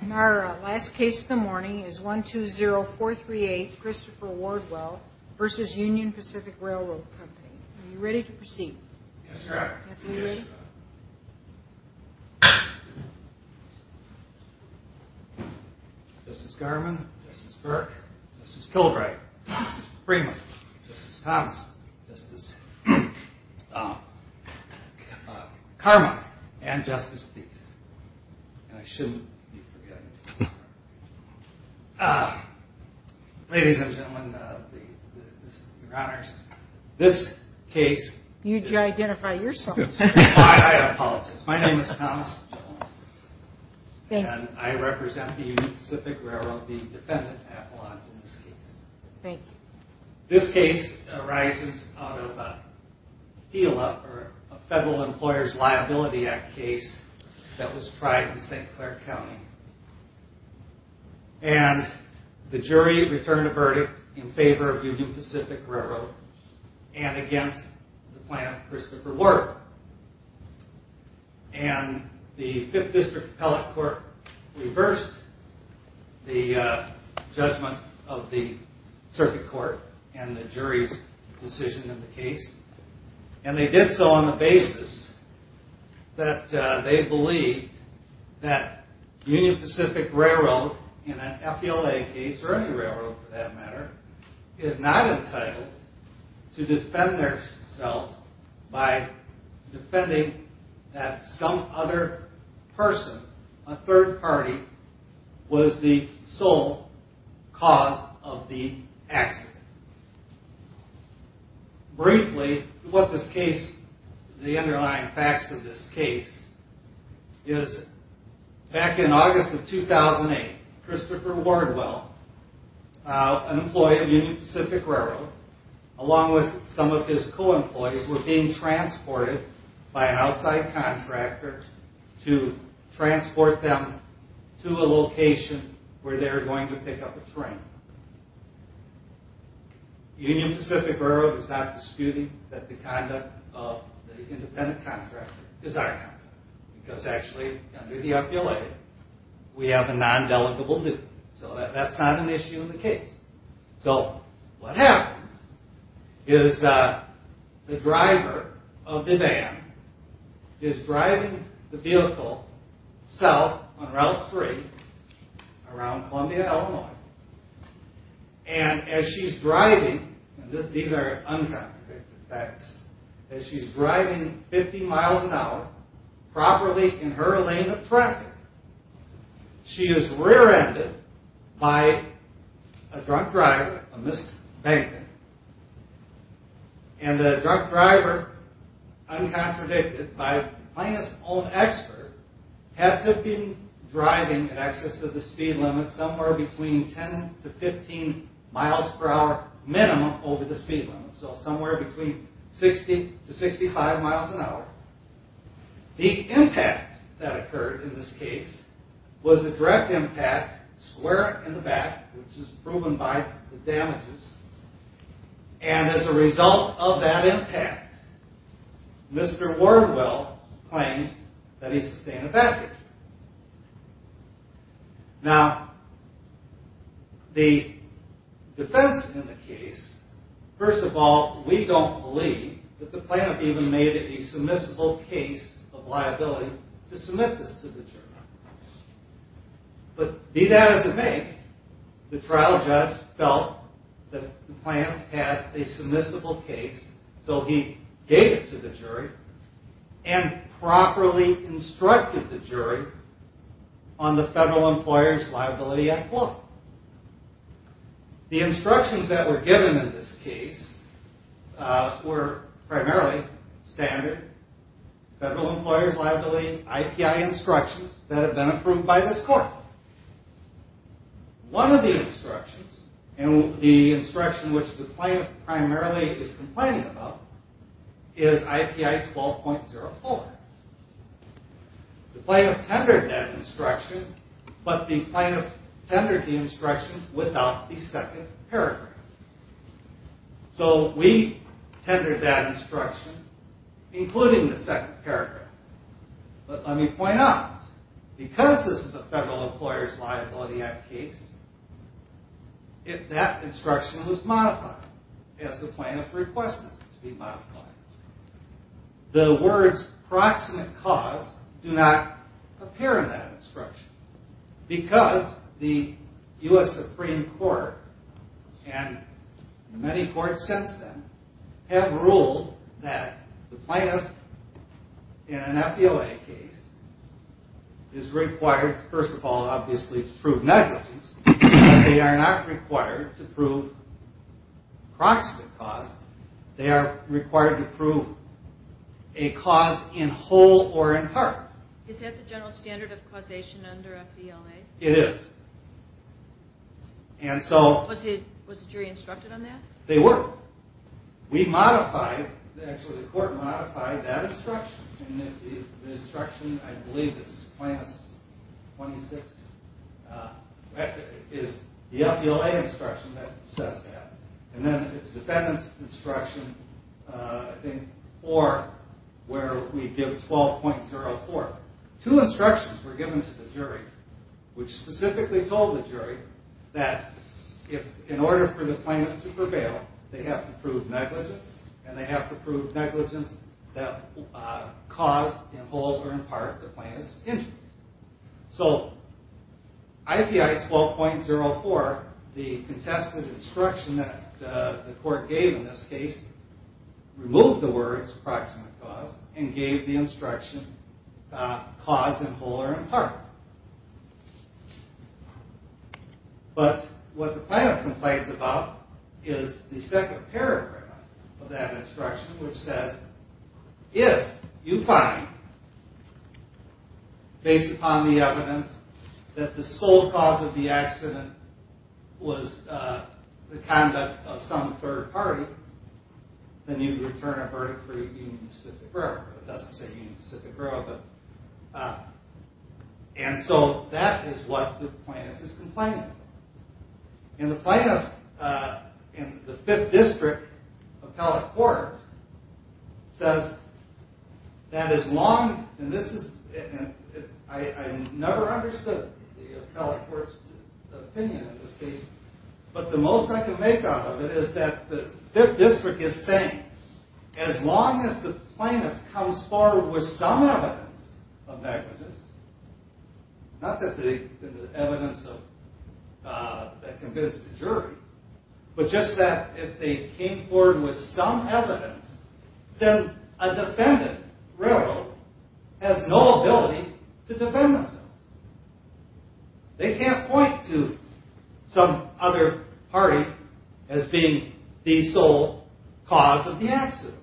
Are you ready to proceed? Yes, ma'am. This is Garman, this is Burke, this is Kilbright, this is Freeman, this is Thomas, this is Carmine, and Justice Thies. And I shouldn't be forgetting Thomas. Ladies and gentlemen, your honors, this case... You need to identify yourself. I apologize. My name is Thomas Jones, and I represent the Union Pacific Railroad, the defendant appellant in this case. This case arises out of a federal Employers Liability Act case that was tried in St. Clair County. And the jury returned a verdict in favor of Union Pacific Railroad and against the plan Christopher Ward. And the Fifth District Appellate Court reversed the judgment of the circuit court and the jury's decision in the case. And they did so on the basis that they believed that Union Pacific Railroad, in an F.E.L.A. case, or any railroad for that matter, is not entitled to defend themselves by defending that some other person, a third party, was the sole cause of the accident. Briefly, the underlying facts of this case is back in August of 2008, Christopher Wardwell, an employee of Union Pacific Railroad, along with some of his co-employees, were being transported by an outside contractor to transport them to a location where they were going to pick up a train. Union Pacific Railroad is not disputing that the conduct of the independent contractor is our conduct. Because actually, under the F.E.L.A., we have a non-delegable due. So that's not an issue in the case. So what happens is the driver of the van is driving the vehicle south on Route 3 around Columbia, Illinois. And as she's driving, and these are uncontradicted facts, as she's driving 50 miles an hour, properly in her lane of traffic, she is rear-ended by a drunk driver, a mis-banking. And the drunk driver, uncontradicted by a plaintiff's own expert, had to have been driving in excess of the speed limit somewhere between 10 to 15 miles per hour minimum over the speed limit. So somewhere between 60 to 65 miles an hour. The impact that occurred in this case was a direct impact square in the back, which is proven by the damages. And as a result of that impact, Mr. Wardwell claimed that he sustained a back injury. Now, the defense in the case, first of all, we don't believe that the plaintiff even made it a submissible case of liability to submit this to the jury. But be that as it may, the trial judge felt that the plaintiff had a submissible case, so he gave it to the jury and properly instructed the jury on the Federal Employer's Liability Act law. The instructions that were given in this case were primarily standard Federal Employer's Liability I.P.I. instructions that have been approved by this court. One of the instructions, and the instruction which the plaintiff primarily is complaining about, is I.P.I. 12.04. The plaintiff tendered that instruction, but the plaintiff tendered the instruction without the second paragraph. So we tendered that instruction, including the second paragraph. But let me point out, because this is a Federal Employer's Liability Act case, that instruction was modified as the plaintiff requested it to be modified. The words, proximate cause, do not appear in that instruction. Because the U.S. Supreme Court, and many courts since then, have ruled that the plaintiff in an FEOA case is required, first of all, obviously, to prove negligence. But they are not required to prove proximate cause. They are required to prove a cause in whole or in part. Is that the general standard of causation under FEOA? It is. Was the jury instructed on that? They were. The instruction, I believe it's plaintiff's 26th, is the FEOA instruction that says that. And then it's defendant's instruction, I think, 4, where we give 12.04. Two instructions were given to the jury, which specifically told the jury that in order for the plaintiff to prevail, they have to prove negligence. And they have to prove negligence that cause in whole or in part the plaintiff's injury. So, IPI 12.04, the contested instruction that the court gave in this case, removed the words proximate cause and gave the instruction cause in whole or in part. But what the plaintiff complains about is the second paragraph of that instruction, which says if you find, based upon the evidence, that the sole cause of the accident was the conduct of some third party, then you return a verdict for Union Pacific Railroad. It doesn't say Union Pacific Railroad. And so that is what the plaintiff is complaining about. And the plaintiff in the Fifth District Appellate Court says that as long, and this is, I never understood the appellate court's opinion in this case, but the most I can make out of it is that the Fifth District is saying as long as the plaintiff comes forward with some evidence of negligence, not that the evidence that convinced the jury, but just that if they came forward with some evidence, then a defendant, railroad, has no ability to defend themselves. They can't point to some other party as being the sole cause of the accident.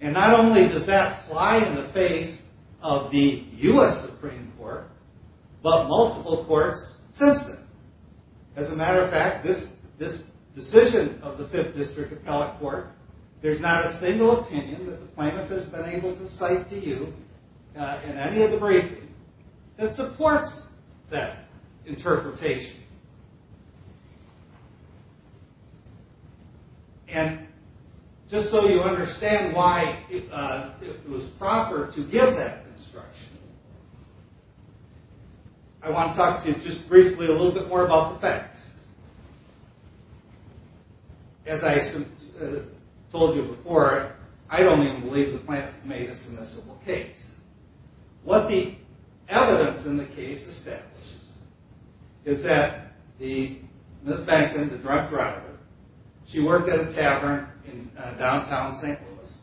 And not only does that fly in the face of the U.S. Supreme Court, but multiple courts since then. As a matter of fact, this decision of the Fifth District Appellate Court, there's not a single opinion that the plaintiff has been able to cite to you in any of the briefing that supports that interpretation. And just so you understand why it was proper to give that instruction, I want to talk to you just briefly a little bit more about the facts. As I told you before, I don't even believe the plaintiff made a submissible case. What the evidence in the case establishes is that Ms. Bankton, the drunk driver, she worked at a tavern in downtown St. Louis.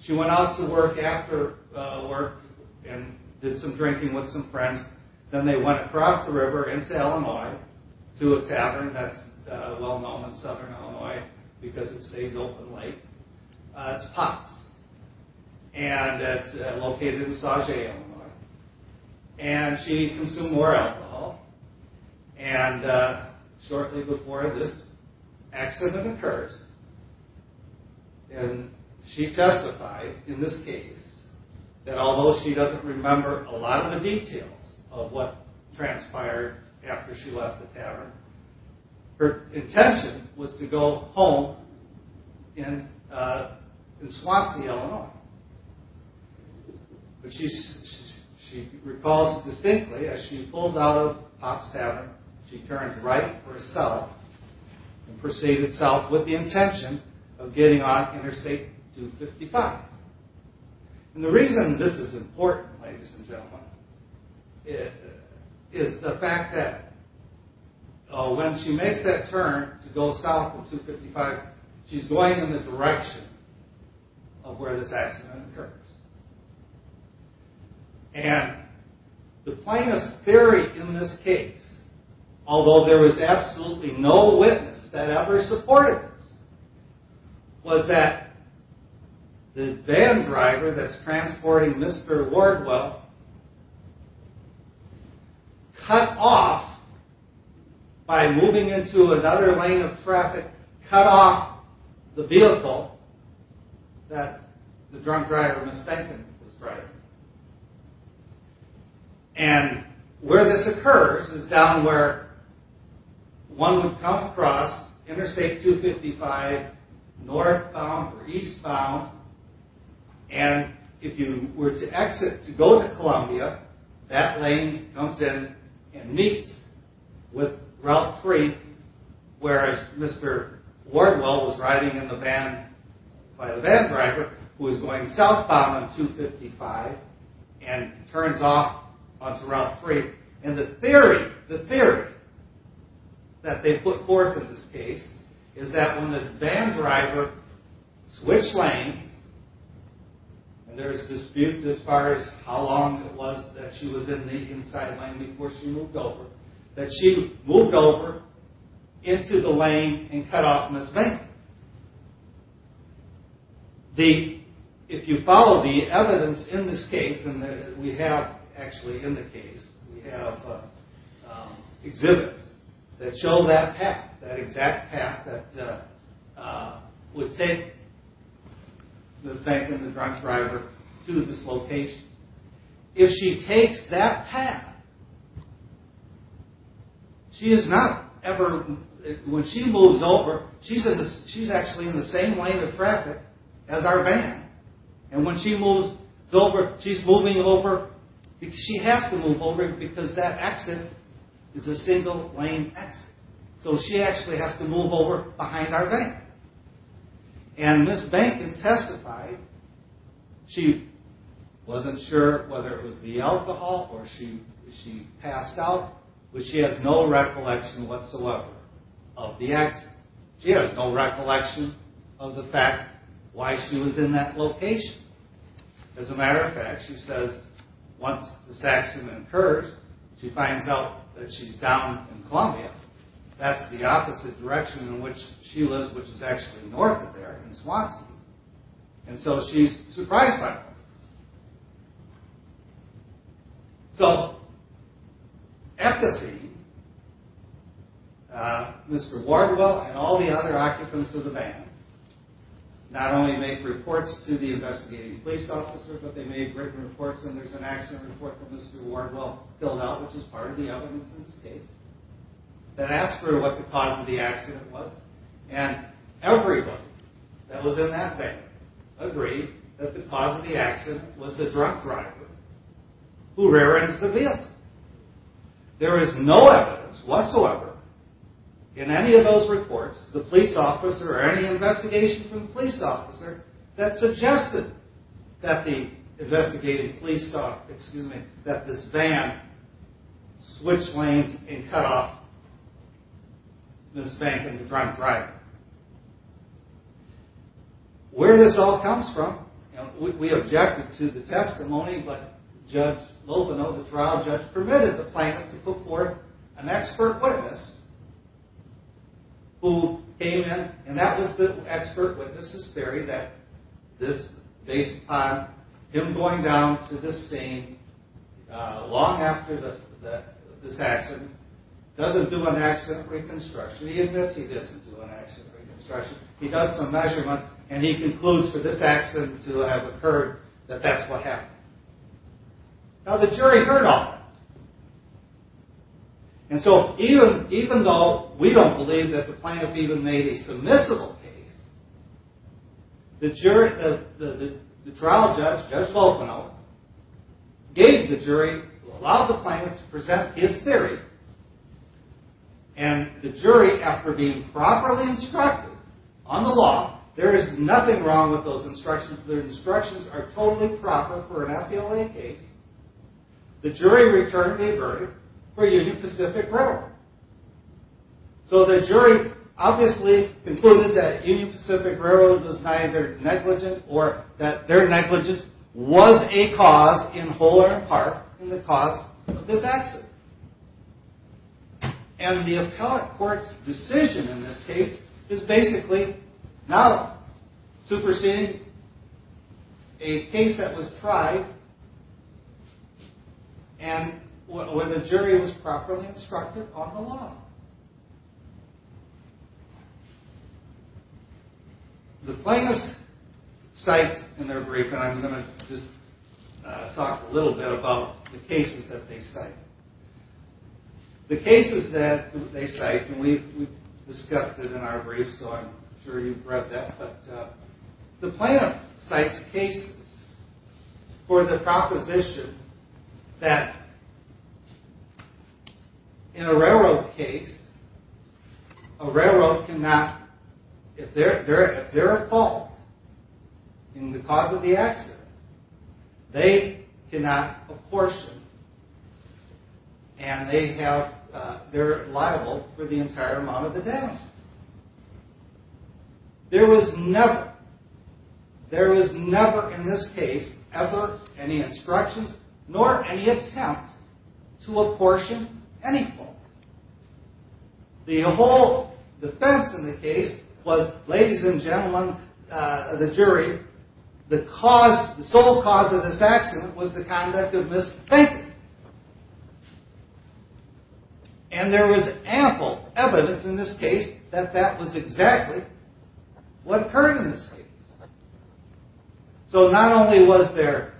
She went out to work after work and did some drinking with some friends. Then they went across the river into Illinois to a tavern that's well-known in southern Illinois because it stays open late. It's Pops, and it's located in Sauget, Illinois. And she consumed more alcohol. Shortly before this accident occurs, she testified in this case that although she doesn't remember a lot of the details of what transpired after she left the tavern, her intention was to go home in Swansea, Illinois. But she recalls distinctly as she pulls out of Pops' tavern, she turns right for a south and proceeds south with the intention of getting on Interstate 255. And the reason this is important, ladies and gentlemen, is the fact that when she makes that turn to go south of 255, she's going in the direction of where this accident occurs. And the plainest theory in this case, although there was absolutely no witness that ever supported this, was that the van driver that's transporting Mr. Wardwell cut off, by moving into another lane of traffic, cut off the vehicle that the drunk driver mistakenly was driving. And where this occurs is down where one would come across Interstate 255 northbound or eastbound, and if you were to exit to go to Columbia, that lane comes in and meets with Route 3, whereas Mr. Wardwell was riding in the van by a van driver who was going southbound on 255 and turns off onto Route 3. And the theory that they put forth in this case is that when the van driver switched lanes, and there is dispute as far as how long it was that she was in the inside lane before she moved over, that she moved over into the lane and cut off Ms. Bankman. If you follow the evidence in this case, and we have actually in the case, we have exhibits that show that path, that exact path that would take Ms. Bankman, the drunk driver, to this location. If she takes that path, she is not ever, when she moves over, she's actually in the same lane of traffic as our van. And when she moves over, she's moving over, she has to move over because that exit is a single lane exit. So she actually has to move over behind our van. And Ms. Bankman testified, she wasn't sure whether it was the alcohol or she passed out, but she has no recollection whatsoever of the exit. She has no recollection of the fact why she was in that location. As a matter of fact, she says once this accident occurs, she finds out that she's down in Columbia, that's the opposite direction in which she lives, which is actually north of there in Swansea. And so she's surprised by this. So, at the scene, Mr. Wardwell and all the other occupants of the van not only make reports to the investigating police officer, but they make written reports and there's an accident report that Mr. Wardwell filled out, which is part of the evidence in this case, that asks for what the cause of the accident was. And everybody that was in that van agreed that the cause of the accident was the drunk driver who rear-ends the vehicle. There is no evidence whatsoever in any of those reports, the police officer or any investigation from the police officer, that suggested that the investigating police thought, excuse me, that this van switched lanes and cut off Ms. Bankman, the drunk driver. Where this all comes from, and we objected to the testimony, but Judge Loveno, the trial judge, permitted the plaintiff to put forth an expert witness who came in, and that was the expert witness's theory that this, based on him going down to this scene long after this accident, doesn't do an accident reconstruction. He admits he doesn't do an accident reconstruction. He does some measurements, and he concludes for this accident to have occurred that that's what happened. Now, the jury heard all that, and so even though we don't believe that the plaintiff even made a submissible case, the trial judge, Judge Loveno, gave the jury, allowed the plaintiff to present his theory, and the jury, after being properly instructed on the law, there is nothing wrong with those instructions. Their instructions are totally proper for an FBLA case. The jury returned a verdict for Union Pacific Railroad. So the jury obviously concluded that Union Pacific Railroad was neither negligent or that their negligence was a cause, in whole or in part, in the cause of this accident. And the appellate court's decision in this case is basically not superseding a case that was tried and where the jury was properly instructed on the law. The plaintiff cites in their brief, and I'm going to just talk a little bit about the cases that they cite. The cases that they cite, and we've discussed it in our brief, so I'm sure you've read that, but the plaintiff cites cases for the proposition that in a railroad case, a railroad cannot, if they're at fault in the cause of the accident, they cannot apportion and they're liable for the entire amount of the damages. There was never, there was never in this case ever any instructions nor any attempt to apportion any fault. The whole defense in the case was, ladies and gentlemen of the jury, the cause, the sole cause of this accident was the conduct of misthinking. And there was ample evidence in this case that that was exactly what occurred in this case. So not only was there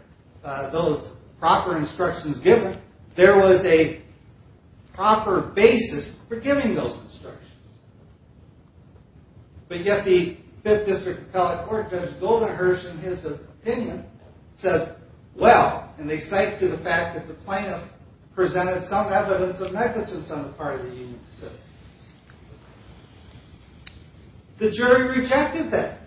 those proper instructions given, there was a proper basis for giving those instructions. But yet the 5th District Appellate Court Judge Goldenherz in his opinion says, well, and they cite to the fact that the plaintiff presented some evidence of negligence on the part of the Union Pacific, the jury rejected that.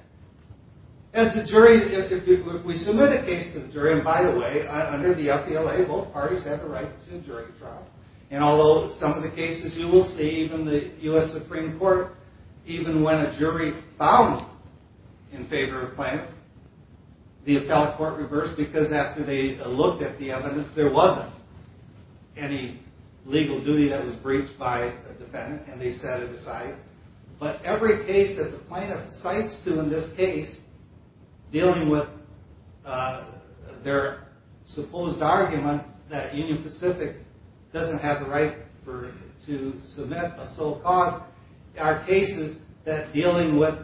As the jury, if we submit a case to the jury, and by the way, under the FDLA, both parties have the right to jury trial, and although some of the cases you will see, even the U.S. Supreme Court, even when a jury found in favor of the plaintiff, the appellate court reversed because after they looked at the evidence, there wasn't any legal duty that was breached by the defendant and they set it aside. But every case that the plaintiff cites to in this case dealing with their supposed argument that Union Pacific doesn't have the right to submit a sole cause are cases that dealing with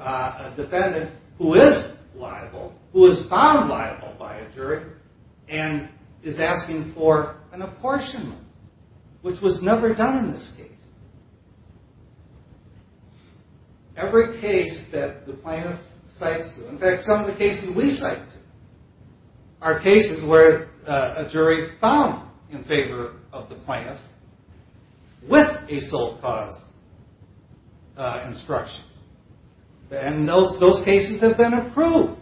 a defendant who is liable, who is found liable by a jury, and is asking for an apportionment, which was never done in this case. Every case that the plaintiff cites to, in fact some of the cases we cite to, are cases where a jury found in favor of the plaintiff with a sole cause instruction, and those cases have been approved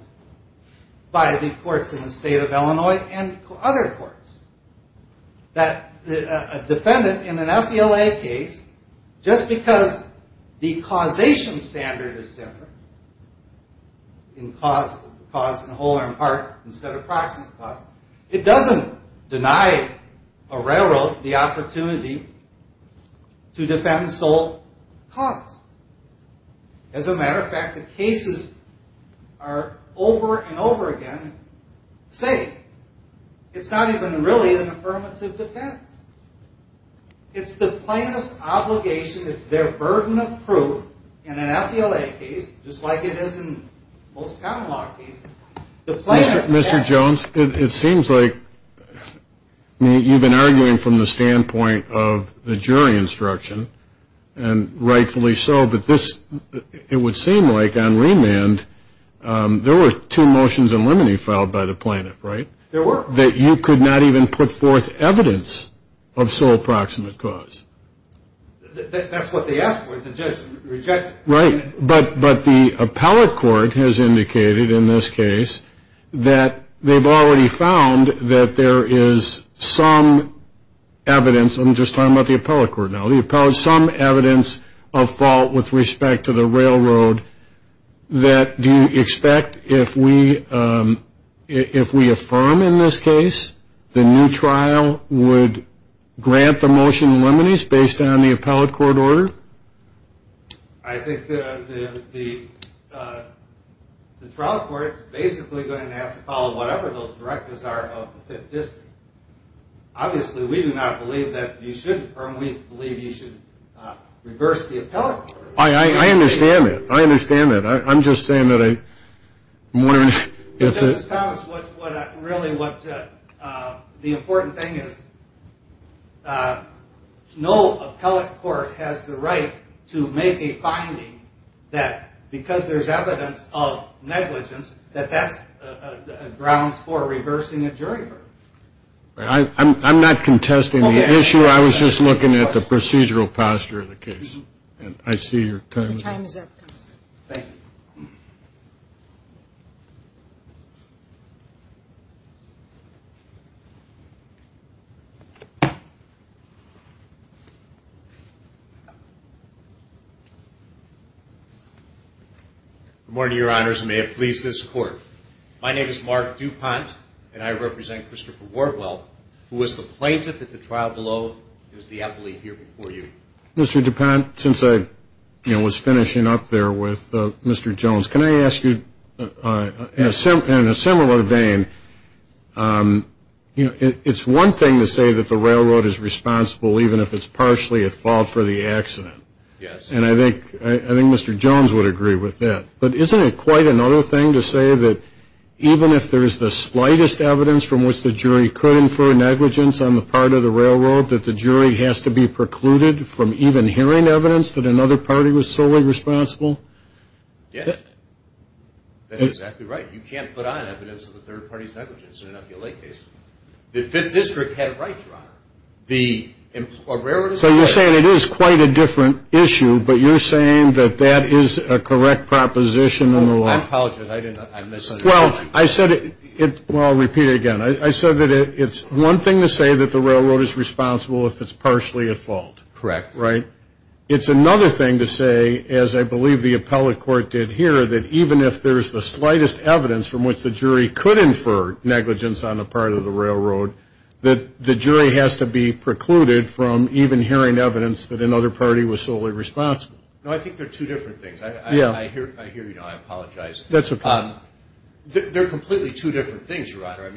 by the courts in the state of Illinois and other courts. That a defendant in an FDLA case, just because the causation standard is different, in cause in whole or in part instead of proxy cause, it doesn't deny a railroad the opportunity to defend sole cause. As a matter of fact, the cases are over and over again saying it's not even really an affirmative defense. It's the plaintiff's obligation, it's their burden of proof in an FDLA case, just like it is in most common law cases. Mr. Jones, it seems like you've been arguing from the standpoint of the jury instruction, and rightfully so, but it would seem like on remand, there were two motions in limine filed by the plaintiff, right? There were. That you could not even put forth evidence of sole proximate cause. That's what they asked for, the judge rejected it. Right, but the appellate court has indicated in this case that they've already found that there is some evidence. I'm just talking about the appellate court now. Some evidence of fault with respect to the railroad that do you expect if we affirm in this case, the new trial would grant the motion in limine based on the appellate court order? I think the trial court is basically going to have to follow whatever those directives are of the fifth district. Obviously, we do not believe that you should affirm, we believe you should reverse the appellate court order. I understand that, I understand that. I'm just saying that I'm wondering if... The important thing is, no appellate court has the right to make a finding that because there's evidence of negligence, that that's grounds for reversing a jury order. I'm not contesting the issue, I was just looking at the procedural posture of the case. I see your time is up. Thank you. Good morning, your honors, and may it please this court. My name is Mark DuPont, and I represent Christopher Wardwell, who was the plaintiff at the trial below, and is the appellate here before you. Mr. DuPont, since I was finishing up there with Mr. Jones, can I ask you, in a similar way, it's one thing to say that the railroad is responsible even if it's partially at fault for the accident, and I think Mr. Jones would agree with that, but isn't it quite another thing to say that even if there's the slightest evidence from which the jury could infer negligence on the part of the railroad, that the jury has to be precluded from even hearing evidence that another party was solely responsible? Yeah, that's exactly right. You can't put on evidence of a third party's negligence in an appeal late case. The Fifth District had it right, your honor. So you're saying it is quite a different issue, but you're saying that that is a correct proposition in the law? I apologize, I misunderstood you. Well, I'll repeat it again. I said that it's one thing to say that the railroad is responsible if it's partially at fault. Correct. It's another thing to say, as I believe the appellate court did here, that even if there's the slightest evidence from which the jury could infer negligence on the part of the railroad, that the jury has to be precluded from even hearing evidence that another party was solely responsible. No, I think they're two different things. I hear you now. I apologize. They're completely two different things, your honor.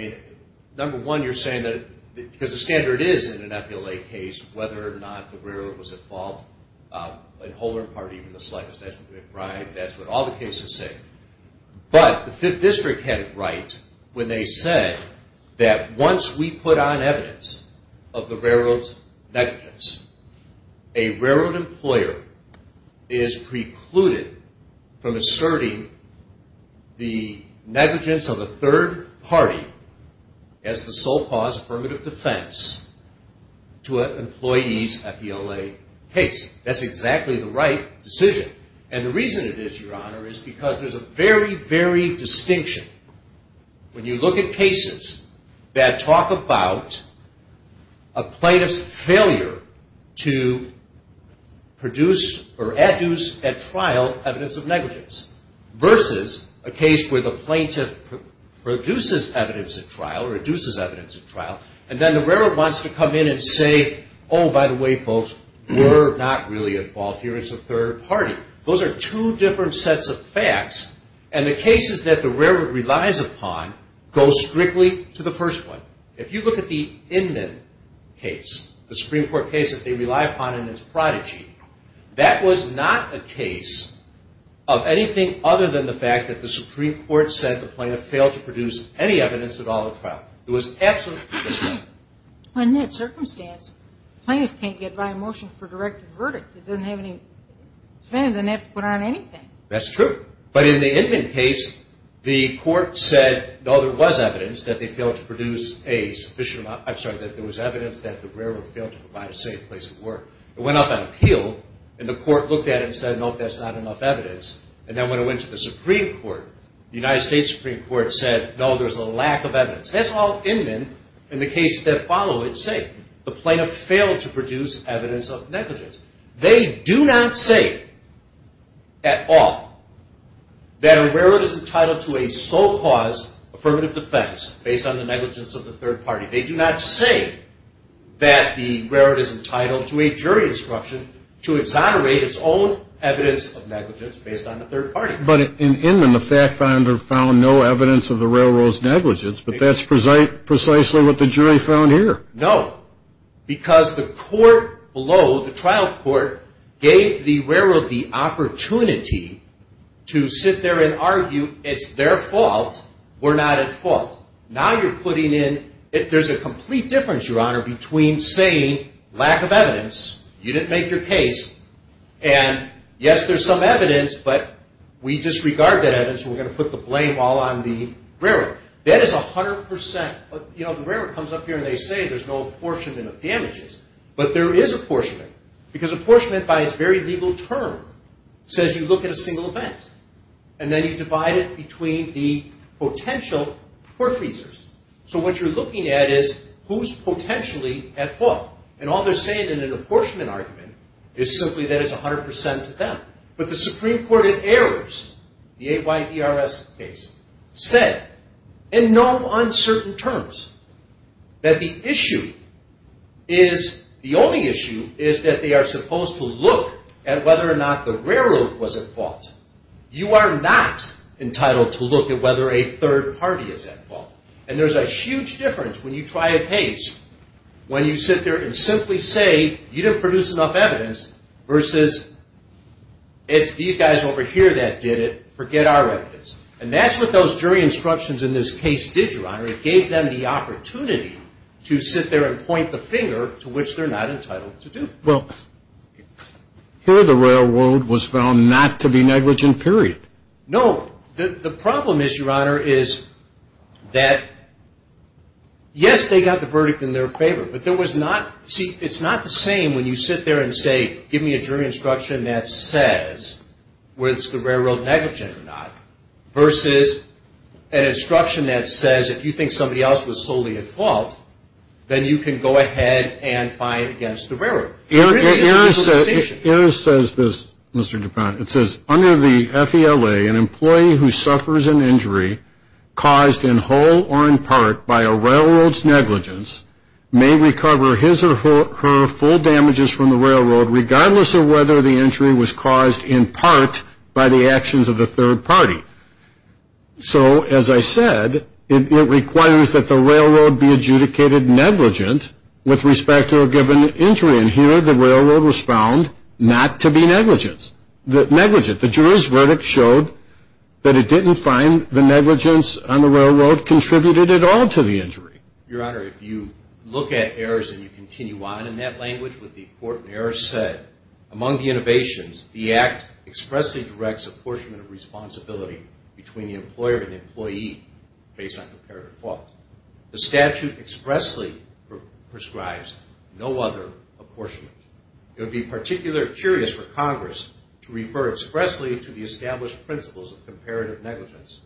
Number one, you're saying that because the standard is in an appeal late case whether or not the railroad was at fault, in whole or in part, even the slightest. That's what all the cases say. But the Fifth District had it right when they said that once we put on evidence of the railroad's negligence, a railroad employer is precluded from asserting the negligence of a third party as the sole cause affirmative defense to an employee's appeal late case. That's exactly the right decision. And the reason it is, your honor, is because there's a very, very distinction. When you look at cases that talk about a plaintiff's failure to produce or adduce at trial evidence of negligence versus a case where the plaintiff produces evidence at trial or adduces evidence at trial, and then the railroad wants to come in and say, oh, by the way, folks, we're not really at fault here. It's the third party. Those are two different sets of facts. And the cases that the railroad relies upon go strictly to the first one. If you look at the Inman case, the Supreme Court case that they rely upon in its prodigy, that was not a case of anything other than the fact that the Supreme Court said the plaintiff failed to produce any evidence at all at trial. It was absolutely disreputable. In that circumstance, the plaintiff can't get by a motion for directed verdict. It doesn't have any – the defendant doesn't have to put on anything. That's true. But in the Inman case, the court said, no, there was evidence that they failed to produce a sufficient – I'm sorry, that there was evidence that the railroad failed to provide a safe place of work. It went up on appeal, and the court looked at it and said, no, that's not enough evidence. And then when it went to the Supreme Court, the United States Supreme Court said, no, there's a lack of evidence. That's all Inman in the cases that follow it say. The plaintiff failed to produce evidence of negligence. They do not say at all that a railroad is entitled to a sole cause affirmative defense based on the negligence of the third party. They do not say that the railroad is entitled to a jury instruction to exonerate its own evidence of negligence based on the third party. But in Inman, the fact finder found no evidence of the railroad's negligence, but that's precisely what the jury found here. No, because the court below, the trial court, gave the railroad the opportunity to sit there and argue it's their fault, we're not at fault. Now you're putting in – there's a complete difference, Your Honor, between saying lack of evidence, you didn't make your case, and yes, there's some evidence, but we disregard that evidence, and we're going to put the blame all on the railroad. That is 100%. The railroad comes up here and they say there's no apportionment of damages, but there is apportionment, because apportionment by its very legal term says you look at a single event, and then you divide it between the potential court users. So what you're looking at is who's potentially at fault, and all they're saying in an apportionment argument is simply that it's 100% to them. But the Supreme Court in errors, the AYERS case, said in no uncertain terms that the issue is – the only issue is that they are supposed to look at whether or not the railroad was at fault. You are not entitled to look at whether a third party is at fault, and there's a huge difference when you try a case when you sit there and simply say you didn't produce enough evidence versus it's these guys over here that did it. Forget our evidence. And that's what those jury instructions in this case did, Your Honor. It gave them the opportunity to sit there and point the finger to which they're not entitled to do. Well, here the railroad was found not to be negligent, period. No. The problem is, Your Honor, is that yes, they got the verdict in their favor, but there was not – see, it's not the same when you sit there and say, give me a jury instruction that says whether it's the railroad negligent or not versus an instruction that says if you think somebody else was solely at fault, then you can go ahead and fine it against the railroad. AYERS says this, Mr. DuPont. It says, under the FELA, an employee who suffers an injury caused in whole or in part by a railroad's negligence may recover his or her full damages from the railroad regardless of whether the injury was caused in part by the actions of the third party. So, as I said, it requires that the railroad be adjudicated negligent with respect to a given injury. And here the railroad was found not to be negligent. The jury's verdict showed that it didn't find the negligence on the railroad contributed at all to the injury. Your Honor, if you look at AYERS and you continue on in that language, what the court in AYERS said, among the innovations, the Act expressly directs apportionment of responsibility between the employer and the employee based on comparative fault. The statute expressly prescribes no other apportionment. It would be particularly curious for Congress to refer expressly to the established principles of comparative negligence,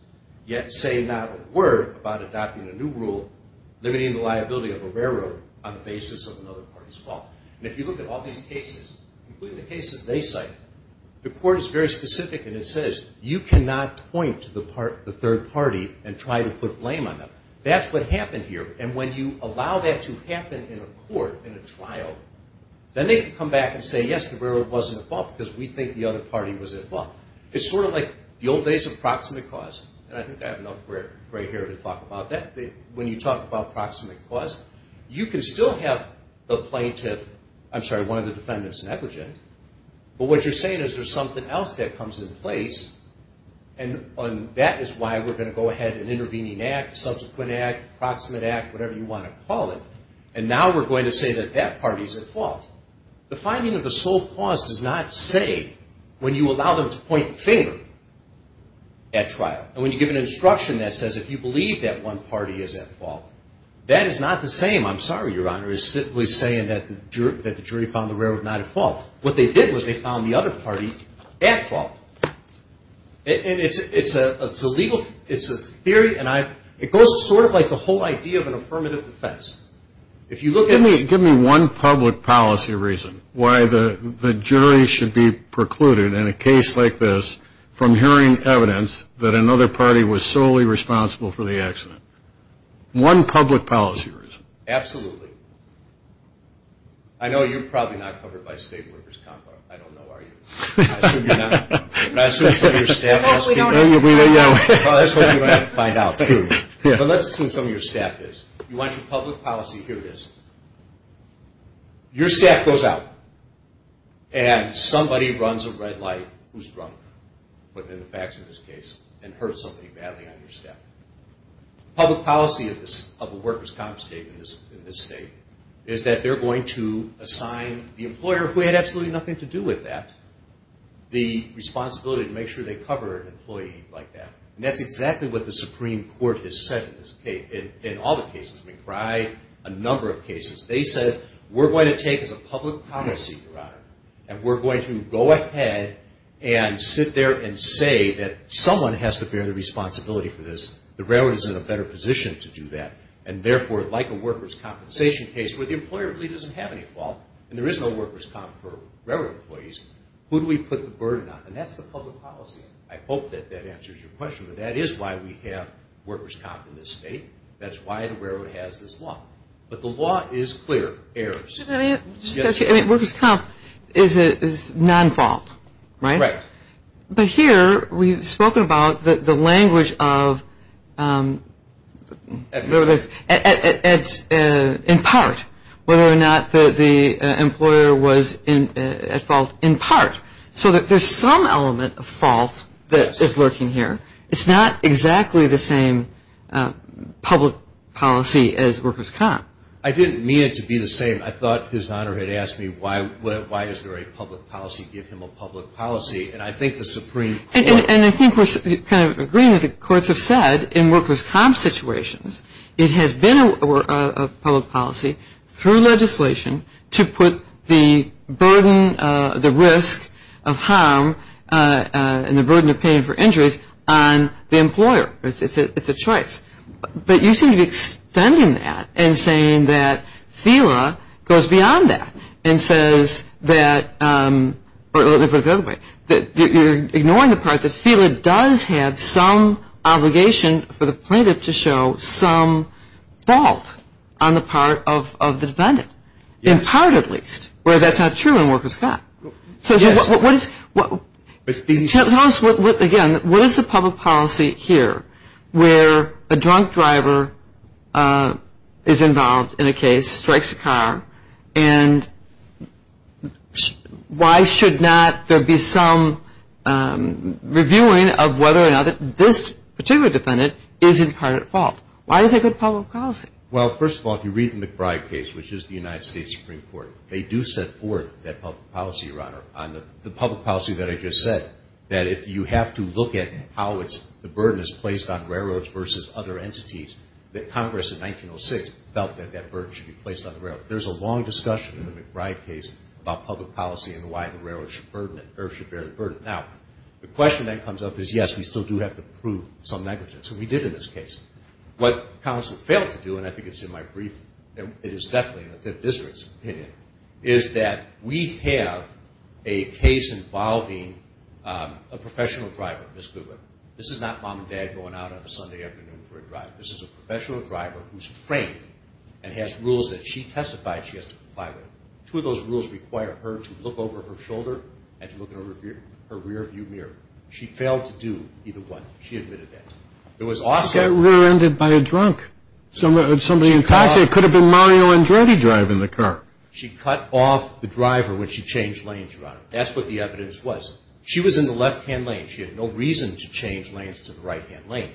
yet say not a word about adopting a new rule limiting the liability of a railroad on the basis of another party's fault. And if you look at all these cases, including the cases they cite, the court is very specific and it says you cannot point to the third party and try to put blame on them. That's what happened here, and when you allow that to happen in a court, in a trial, then they can come back and say, yes, the railroad wasn't at fault because we think the other party was at fault. It's sort of like the old days of proximate cause, and I think I have enough gray hair to talk about that. When you talk about proximate cause, you can still have the plaintiff, I'm sorry, one of the defendants negligent, but what you're saying is there's something else that comes in place, and that is why we're going to go ahead and intervene in Act, subsequent Act, proximate Act, whatever you want to call it, and now we're going to say that that party's at fault. The finding of the sole cause does not say when you allow them to point the finger at trial. And when you give an instruction that says if you believe that one party is at fault, that is not the same, I'm sorry, Your Honor, as simply saying that the jury found the railroad not at fault. What they did was they found the other party at fault. And it's a legal, it's a theory, and it goes sort of like the whole idea of an affirmative defense. If you look at it. Give me one public policy reason why the jury should be precluded in a case like this from hearing evidence that another party was solely responsible for the accident. One public policy reason. Absolutely. I know you're probably not covered by state workers' comp, I don't know, are you? I assume you're not. I assume some of your staff knows. I hope we don't have to find out. Well, I just hope you don't have to find out, too. But let's assume some of your staff is. You want your public policy. Here it is. Your staff goes out, and somebody runs a red light who's drunk, put in the facts of this case, and hurt somebody badly on your staff. Public policy of a workers' comp state in this state is that they're going to assign the employer, who had absolutely nothing to do with that, the responsibility to make sure they cover an employee like that. And that's exactly what the Supreme Court has said in all the cases. We've tried a number of cases. They said we're going to take as a public policy, Your Honor, and we're going to go ahead and sit there and say that someone has to bear the responsibility for this. The railroad is in a better position to do that. And, therefore, like a workers' compensation case where the employer really doesn't have any fault and there is no workers' comp for railroad employees, who do we put the burden on? And that's the public policy. I hope that that answers your question. But that is why we have workers' comp in this state. That's why the railroad has this law. But the law is clear. Workers' comp is non-fault, right? Right. But here we've spoken about the language of, in part, whether or not the employer was at fault, in part, so that there's some element of fault that is lurking here. It's not exactly the same public policy as workers' comp. I didn't mean it to be the same. I thought His Honor had asked me why is there a public policy? Give him a public policy. And I think the Supreme Court. And I think we're kind of agreeing with what the courts have said in workers' comp situations. It has been a public policy through legislation to put the burden, the risk of harm and the burden of paying for injuries on the employer. It's a choice. But you seem to be extending that and saying that FELA goes beyond that and says that, or let me put it the other way, that you're ignoring the part that FELA does have some obligation for the plaintiff to show some fault on the part of the defendant, in part at least, where that's not true in workers' comp. Yes. Tell us, again, what is the public policy here where a drunk driver is involved in a case, strikes a car, and why should not there be some reviewing of whether or not this particular defendant is in part at fault? Why is that a good public policy? Well, first of all, if you read the McBride case, which is the United States Supreme Court, they do set forth that public policy, Your Honor, on the public policy that I just said, that if you have to look at how the burden is placed on railroads versus other entities, that Congress in 1906 felt that that burden should be placed on the railroad. There's a long discussion in the McBride case about public policy and why the railroad should bear the burden. Now, the question that comes up is, yes, we still do have to prove some negligence, and we did in this case. What counsel failed to do, and I think it's in my brief, and it is definitely in the Fifth District's opinion, is that we have a case involving a professional driver, Ms. Goodwin. This is not mom and dad going out on a Sunday afternoon for a drive. This is a professional driver who's trained and has rules that she testified she has to comply with. Two of those rules require her to look over her shoulder and to look in her rearview mirror. She failed to do either one. She admitted that. She got rear-ended by a drunk, somebody in a taxi. It could have been Mario Andretti driving the car. She cut off the driver when she changed lanes, Your Honor. That's what the evidence was. She was in the left-hand lane. She had no reason to change lanes to the right-hand lane.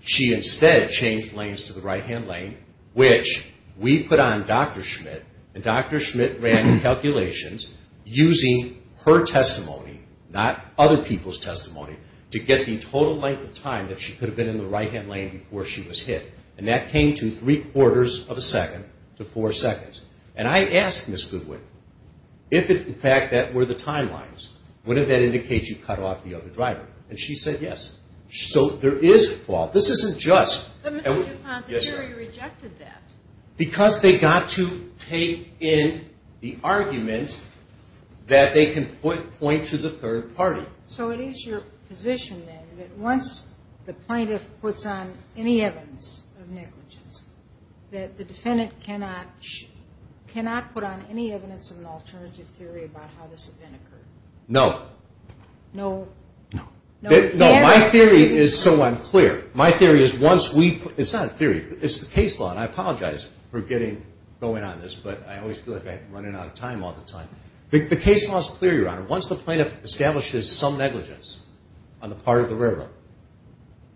She instead changed lanes to the right-hand lane, which we put on Dr. Schmidt, and Dr. Schmidt ran the calculations using her testimony, not other people's testimony, to get the total length of time that she could have been in the right-hand lane before she was hit. And that came to three-quarters of a second to four seconds. And I asked Ms. Goodwin if, in fact, that were the timelines. Would that indicate you cut off the other driver? And she said yes. So there is fault. This isn't just. But, Mr. DuPont, the jury rejected that. Because they got to take in the argument that they can point to the third party. So it is your position, then, that once the plaintiff puts on any evidence of negligence, that the defendant cannot put on any evidence of an alternative theory about how this event occurred? No. No? No. No, my theory is so unclear. My theory is once we put – it's not a theory. It's the case law, and I apologize for getting going on this, but I always feel like I'm running out of time all the time. The case law is clear, Your Honor. Once the plaintiff establishes some negligence on the part of the railroad,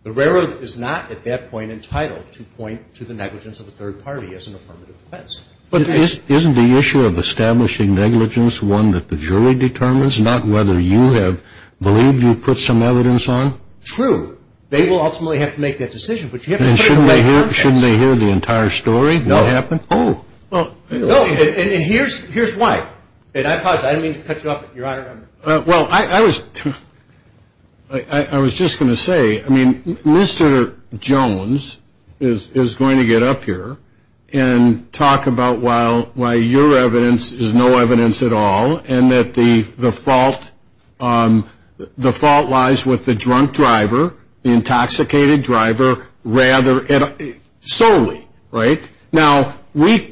the railroad is not, at that point, entitled to point to the negligence of the third party as an affirmative defense. But isn't the issue of establishing negligence one that the jury determines, not whether you have believed you put some evidence on? True. They will ultimately have to make that decision. But you have to put it in the right context. And shouldn't they hear the entire story, what happened? No. Oh. No, and here's why. And I apologize. I didn't mean to cut you off, Your Honor. Well, I was just going to say, I mean, Mr. Jones is going to get up here and talk about why your evidence is no evidence at all and that the fault lies with the drunk driver, the intoxicated driver, solely, right? Now, we're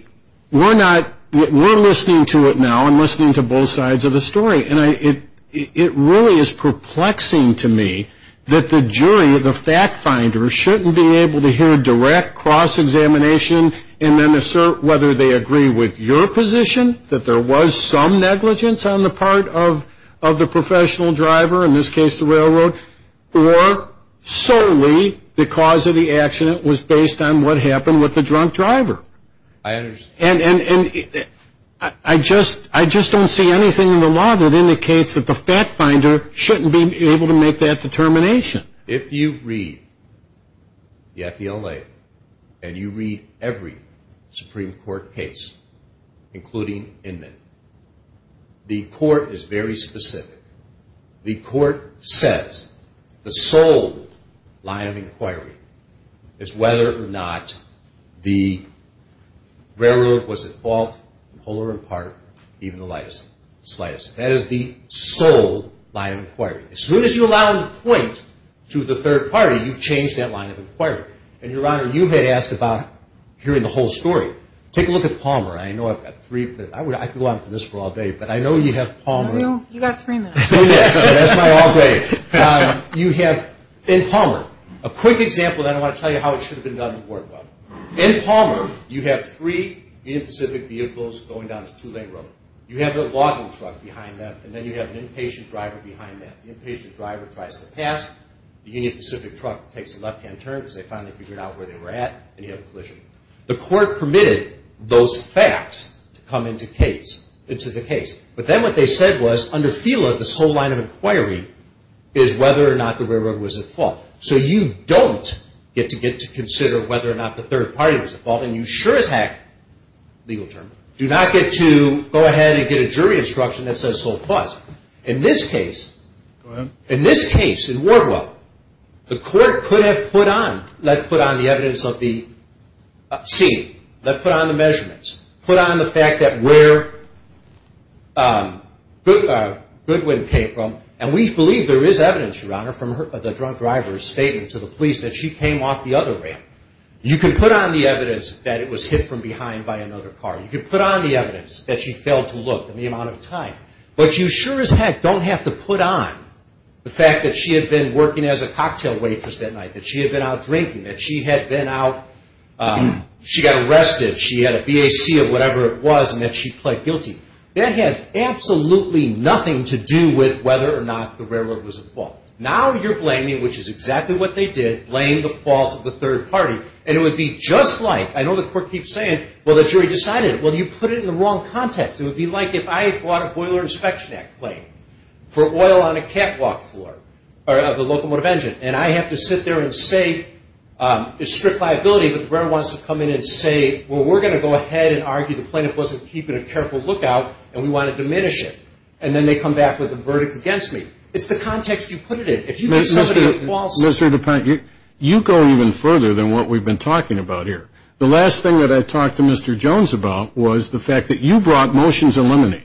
listening to it now. I'm listening to both sides of the story. And it really is perplexing to me that the jury, the fact finder, shouldn't be able to hear a direct cross-examination and then assert whether they agree with your position, that there was some negligence on the part of the professional driver, in this case the railroad, or solely the cause of the accident was based on what happened with the drunk driver. I understand. And I just don't see anything in the law that indicates that the fact finder shouldn't be able to make that determination. If you read the F.E.L.A. and you read every Supreme Court case, including Inman, the court is very specific. The court says the sole line of inquiry is whether or not the railroad was at fault, in whole or in part, even the slightest. That is the sole line of inquiry. As soon as you allow them to point to the third party, you've changed that line of inquiry. And, Your Honor, you had asked about hearing the whole story. Take a look at Palmer. I know I've got three minutes. I could go on for this for all day, but I know you have Palmer. You've got three minutes. That's my all day. In Palmer, a quick example, then I want to tell you how it should have been done and worked well. In Palmer, you have three Union Pacific vehicles going down this two-lane road. You have a logging truck behind them, and then you have an inpatient driver behind them. The inpatient driver tries to pass. The Union Pacific truck takes a left-hand turn because they finally figured out where they were at, and you have a collision. The court permitted those facts to come into the case. But then what they said was, under FILA, the sole line of inquiry is whether or not the railroad was at fault. So you don't get to get to consider whether or not the third party was at fault, and you sure as heck, legal term, do not get to go ahead and get a jury instruction that says sole cause. In this case, in Wardwell, the court could have put on the evidence of the scene, put on the measurements, put on the fact that where Goodwin came from, and we believe there is evidence, Your Honor, from the drunk driver's statement to the police that she came off the other ramp. You could put on the evidence that it was hit from behind by another car. You could put on the evidence that she failed to look in the amount of time. But you sure as heck don't have to put on the fact that she had been working as a cocktail waitress that night, that she had been out drinking, that she had been out, she got arrested, she had a BAC of whatever it was, and that she pled guilty. That has absolutely nothing to do with whether or not the railroad was at fault. Now you're blaming, which is exactly what they did, blame the fault of the third party. And it would be just like, I know the court keeps saying, well, the jury decided it. Well, you put it in the wrong context. It would be like if I bought a Boiler Inspection Act claim for oil on a catwalk floor, and I have to sit there and say it's strict liability, but the railroad wants to come in and say, well, we're going to go ahead and argue the plaintiff wasn't keeping a careful lookout, and we want to diminish it. And then they come back with a verdict against me. It's the context you put it in. If you put somebody at fault. Mr. DuPont, you go even further than what we've been talking about here. The last thing that I talked to Mr. Jones about was the fact that you brought motions in London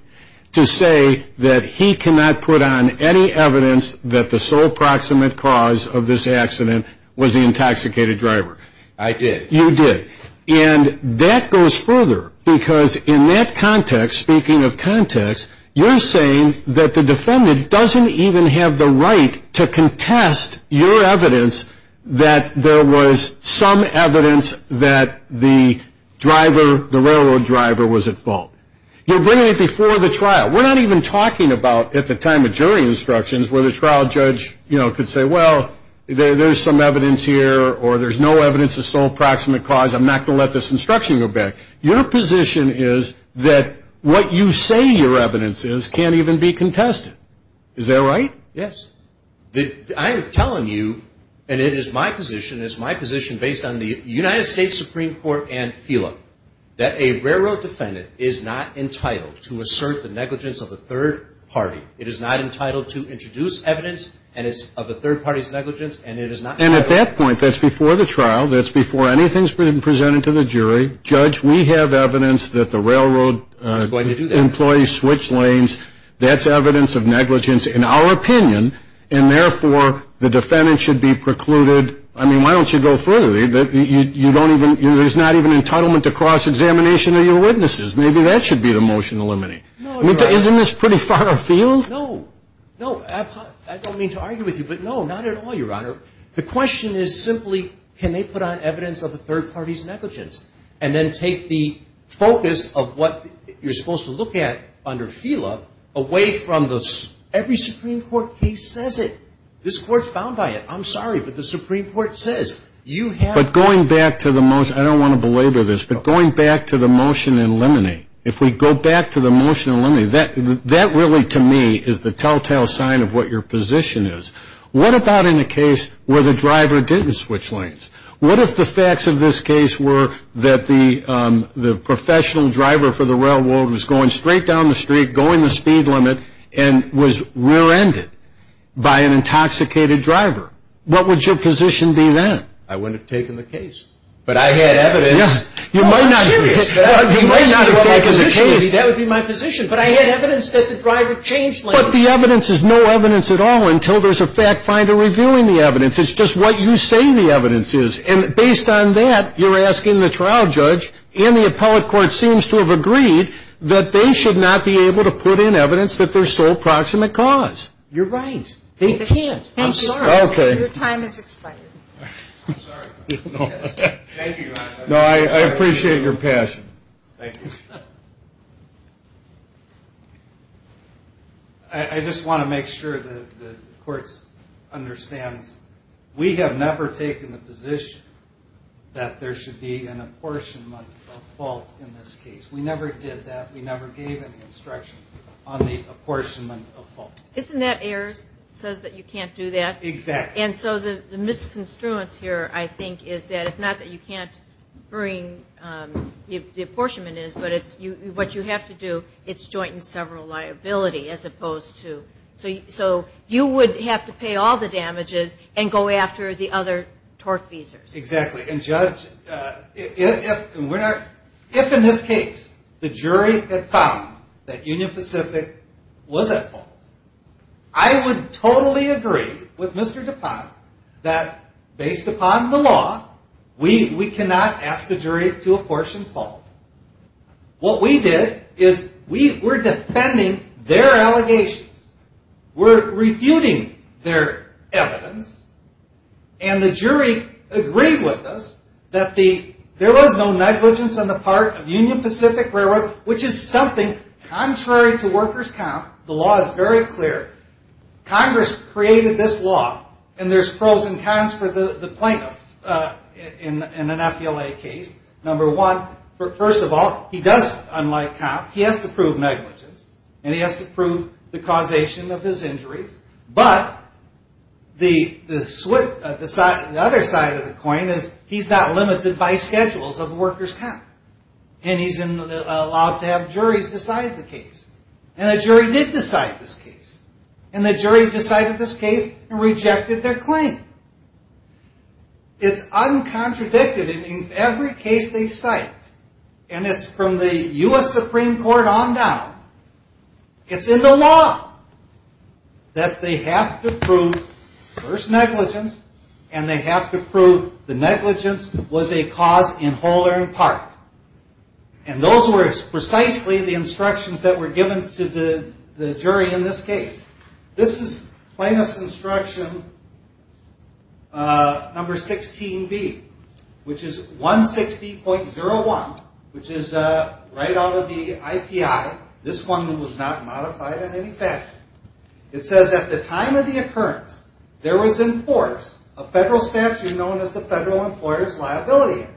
to say that he cannot put on any evidence that the sole proximate cause of this accident was the intoxicated driver. I did. You did. And that goes further, because in that context, speaking of context, you're saying that the defendant doesn't even have the right to contest your evidence that there was some evidence that the driver, the railroad driver, was at fault. You're bringing it before the trial. We're not even talking about at the time of jury instructions where the trial judge, you know, could say, well, there's some evidence here, or there's no evidence of sole proximate cause. I'm not going to let this instruction go back. Your position is that what you say your evidence is can't even be contested. Is that right? Yes. I am telling you, and it is my position, based on the United States Supreme Court and FILA, that a railroad defendant is not entitled to assert the negligence of a third party. It is not entitled to introduce evidence of a third party's negligence, and it is not. And at that point, that's before the trial. That's before anything is presented to the jury. Judge, we have evidence that the railroad employee switched lanes. That's evidence of negligence in our opinion, and, therefore, the defendant should be precluded. I mean, why don't you go further? You don't even – there's not even entitlement to cross-examination of your witnesses. Maybe that should be the motion to eliminate. No, Your Honor. Isn't this pretty far afield? No. No. I don't mean to argue with you, but, no, not at all, Your Honor. The question is simply can they put on evidence of a third party's negligence and then take the focus of what you're supposed to look at under FILA away from the – every Supreme Court case says it. This Court's bound by it. I'm sorry, but the Supreme Court says you have – But going back to the – I don't want to belabor this, but going back to the motion to eliminate, if we go back to the motion to eliminate, that really, to me, is the telltale sign of what your position is. What about in the case where the driver didn't switch lanes? What if the facts of this case were that the professional driver for the railroad was going straight down the street, going the speed limit, and was rear-ended by an intoxicated driver? What would your position be then? I wouldn't have taken the case. But I had evidence. You might not have taken the case. That would be my position. But I had evidence that the driver changed lanes. But the evidence is no evidence at all until there's a fact finder reviewing the evidence. It's just what you say the evidence is. And based on that, you're asking the trial judge, and the appellate court seems to have agreed, that they should not be able to put in evidence that there's sole proximate cause. You're right. They can't. I'm sorry. Okay. Your time has expired. I'm sorry. Thank you, Your Honor. No, I appreciate your passion. Thank you. I just want to make sure that the court understands, we have never taken the position that there should be an apportionment of fault in this case. We never did that. We never gave any instructions on the apportionment of fault. Isn't that Ayers? It says that you can't do that. Exactly. And so the misconstruence here, I think, is that it's not that you can't bring the apportionment in, but what you have to do, it's joint and several liability as opposed to. So you would have to pay all the damages and go after the other TORF visas. Exactly. And, Judge, if in this case the jury had found that Union Pacific was at fault, I would totally agree with Mr. DuPont that based upon the law, we cannot ask the jury to apportion fault. What we did is we were defending their allegations. We're refuting their evidence. And the jury agreed with us that there was no negligence on the part of Union Pacific Railroad, which is something contrary to workers' comp. The law is very clear. Congress created this law, and there's pros and cons for the plaintiff in an FLA case. Number one, first of all, he does, unlike comp, he has to prove negligence, and he has to prove the causation of his injuries. But the other side of the coin is he's not limited by schedules of workers' comp, and he's allowed to have juries decide the case. And a jury did decide this case. And the jury decided this case and rejected their claim. It's uncontradicted in every case they cite. And it's from the U.S. Supreme Court on down. It's in the law that they have to prove first negligence, and they have to prove the negligence was a cause in whole or in part. And those were precisely the instructions that were given to the jury in this case. This is plaintiff's instruction number 16B, which is 160.01, which is right out of the IPI. This one was not modified in any fashion. It says, at the time of the occurrence, there was in force a federal statute known as the Federal Employer's Liability Act.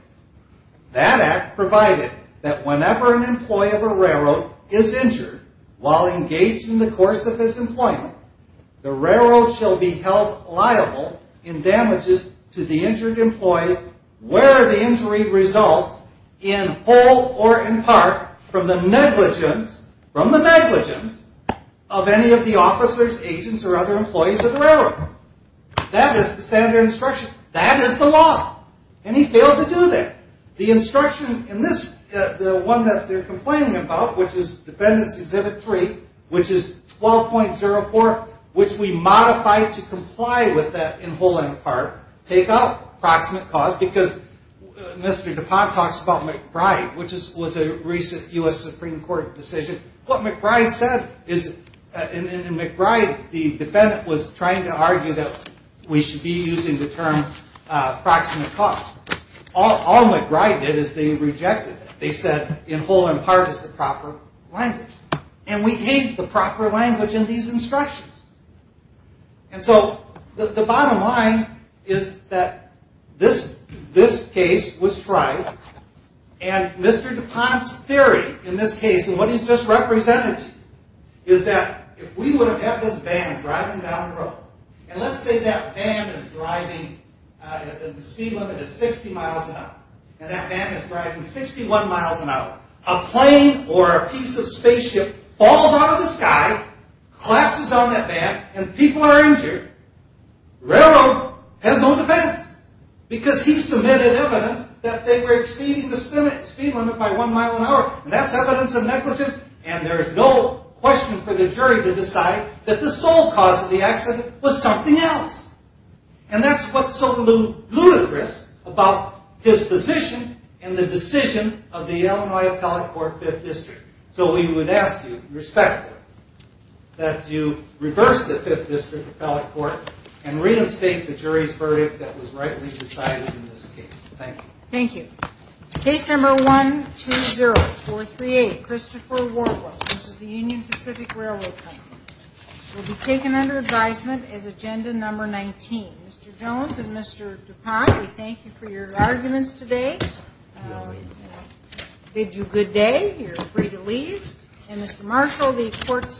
That act provided that whenever an employee of a railroad is injured while engaged in the course of his employment, the railroad shall be held liable in damages to the injured employee where the injury results in whole or in part from the negligence, from the negligence of any of the officers, agents, or other employees of the railroad. That is the standard instruction. That is the law, and he failed to do that. The instruction in this, the one that they're complaining about, which is Defendant's Exhibit 3, which is 12.04, which we modified to comply with that in whole and in part, take out approximate cause because Mr. DuPont talks about McBride, which was a recent U.S. Supreme Court decision. What McBride said is, in McBride, the defendant was trying to argue that we should be using the term approximate cause. All McBride did is they rejected that. They said in whole and part is the proper language, and we gave the proper language in these instructions. And so the bottom line is that this case was tried, and Mr. DuPont's theory in this case, and what he's just represented to you, is that if we would have had this van driving down the road, and let's say that van is driving, the speed limit is 60 miles an hour, and that van is driving 61 miles an hour. A plane or a piece of spaceship falls out of the sky, collapses on that van, and people are injured. The railroad has no defense because he submitted evidence that they were exceeding the speed limit by one mile an hour, and that's evidence of negligence, and there's no question for the jury to decide that the sole cause of the accident was something else. And that's what's so ludicrous about his position and the decision of the Illinois Appellate Court Fifth District. So we would ask you respectfully that you reverse the Fifth District Appellate Court and reinstate the jury's verdict that was rightly decided in this case. Thank you. Thank you. Case number 120438, Christopher Wardwell, which is the Union Pacific Railroad Company, will be taken under advisement as agenda number 19. Mr. Jones and Mr. DuPont, we thank you for your arguments today. We bid you good day. You're free to leave. And Mr. Marshall, the court stands adjourned.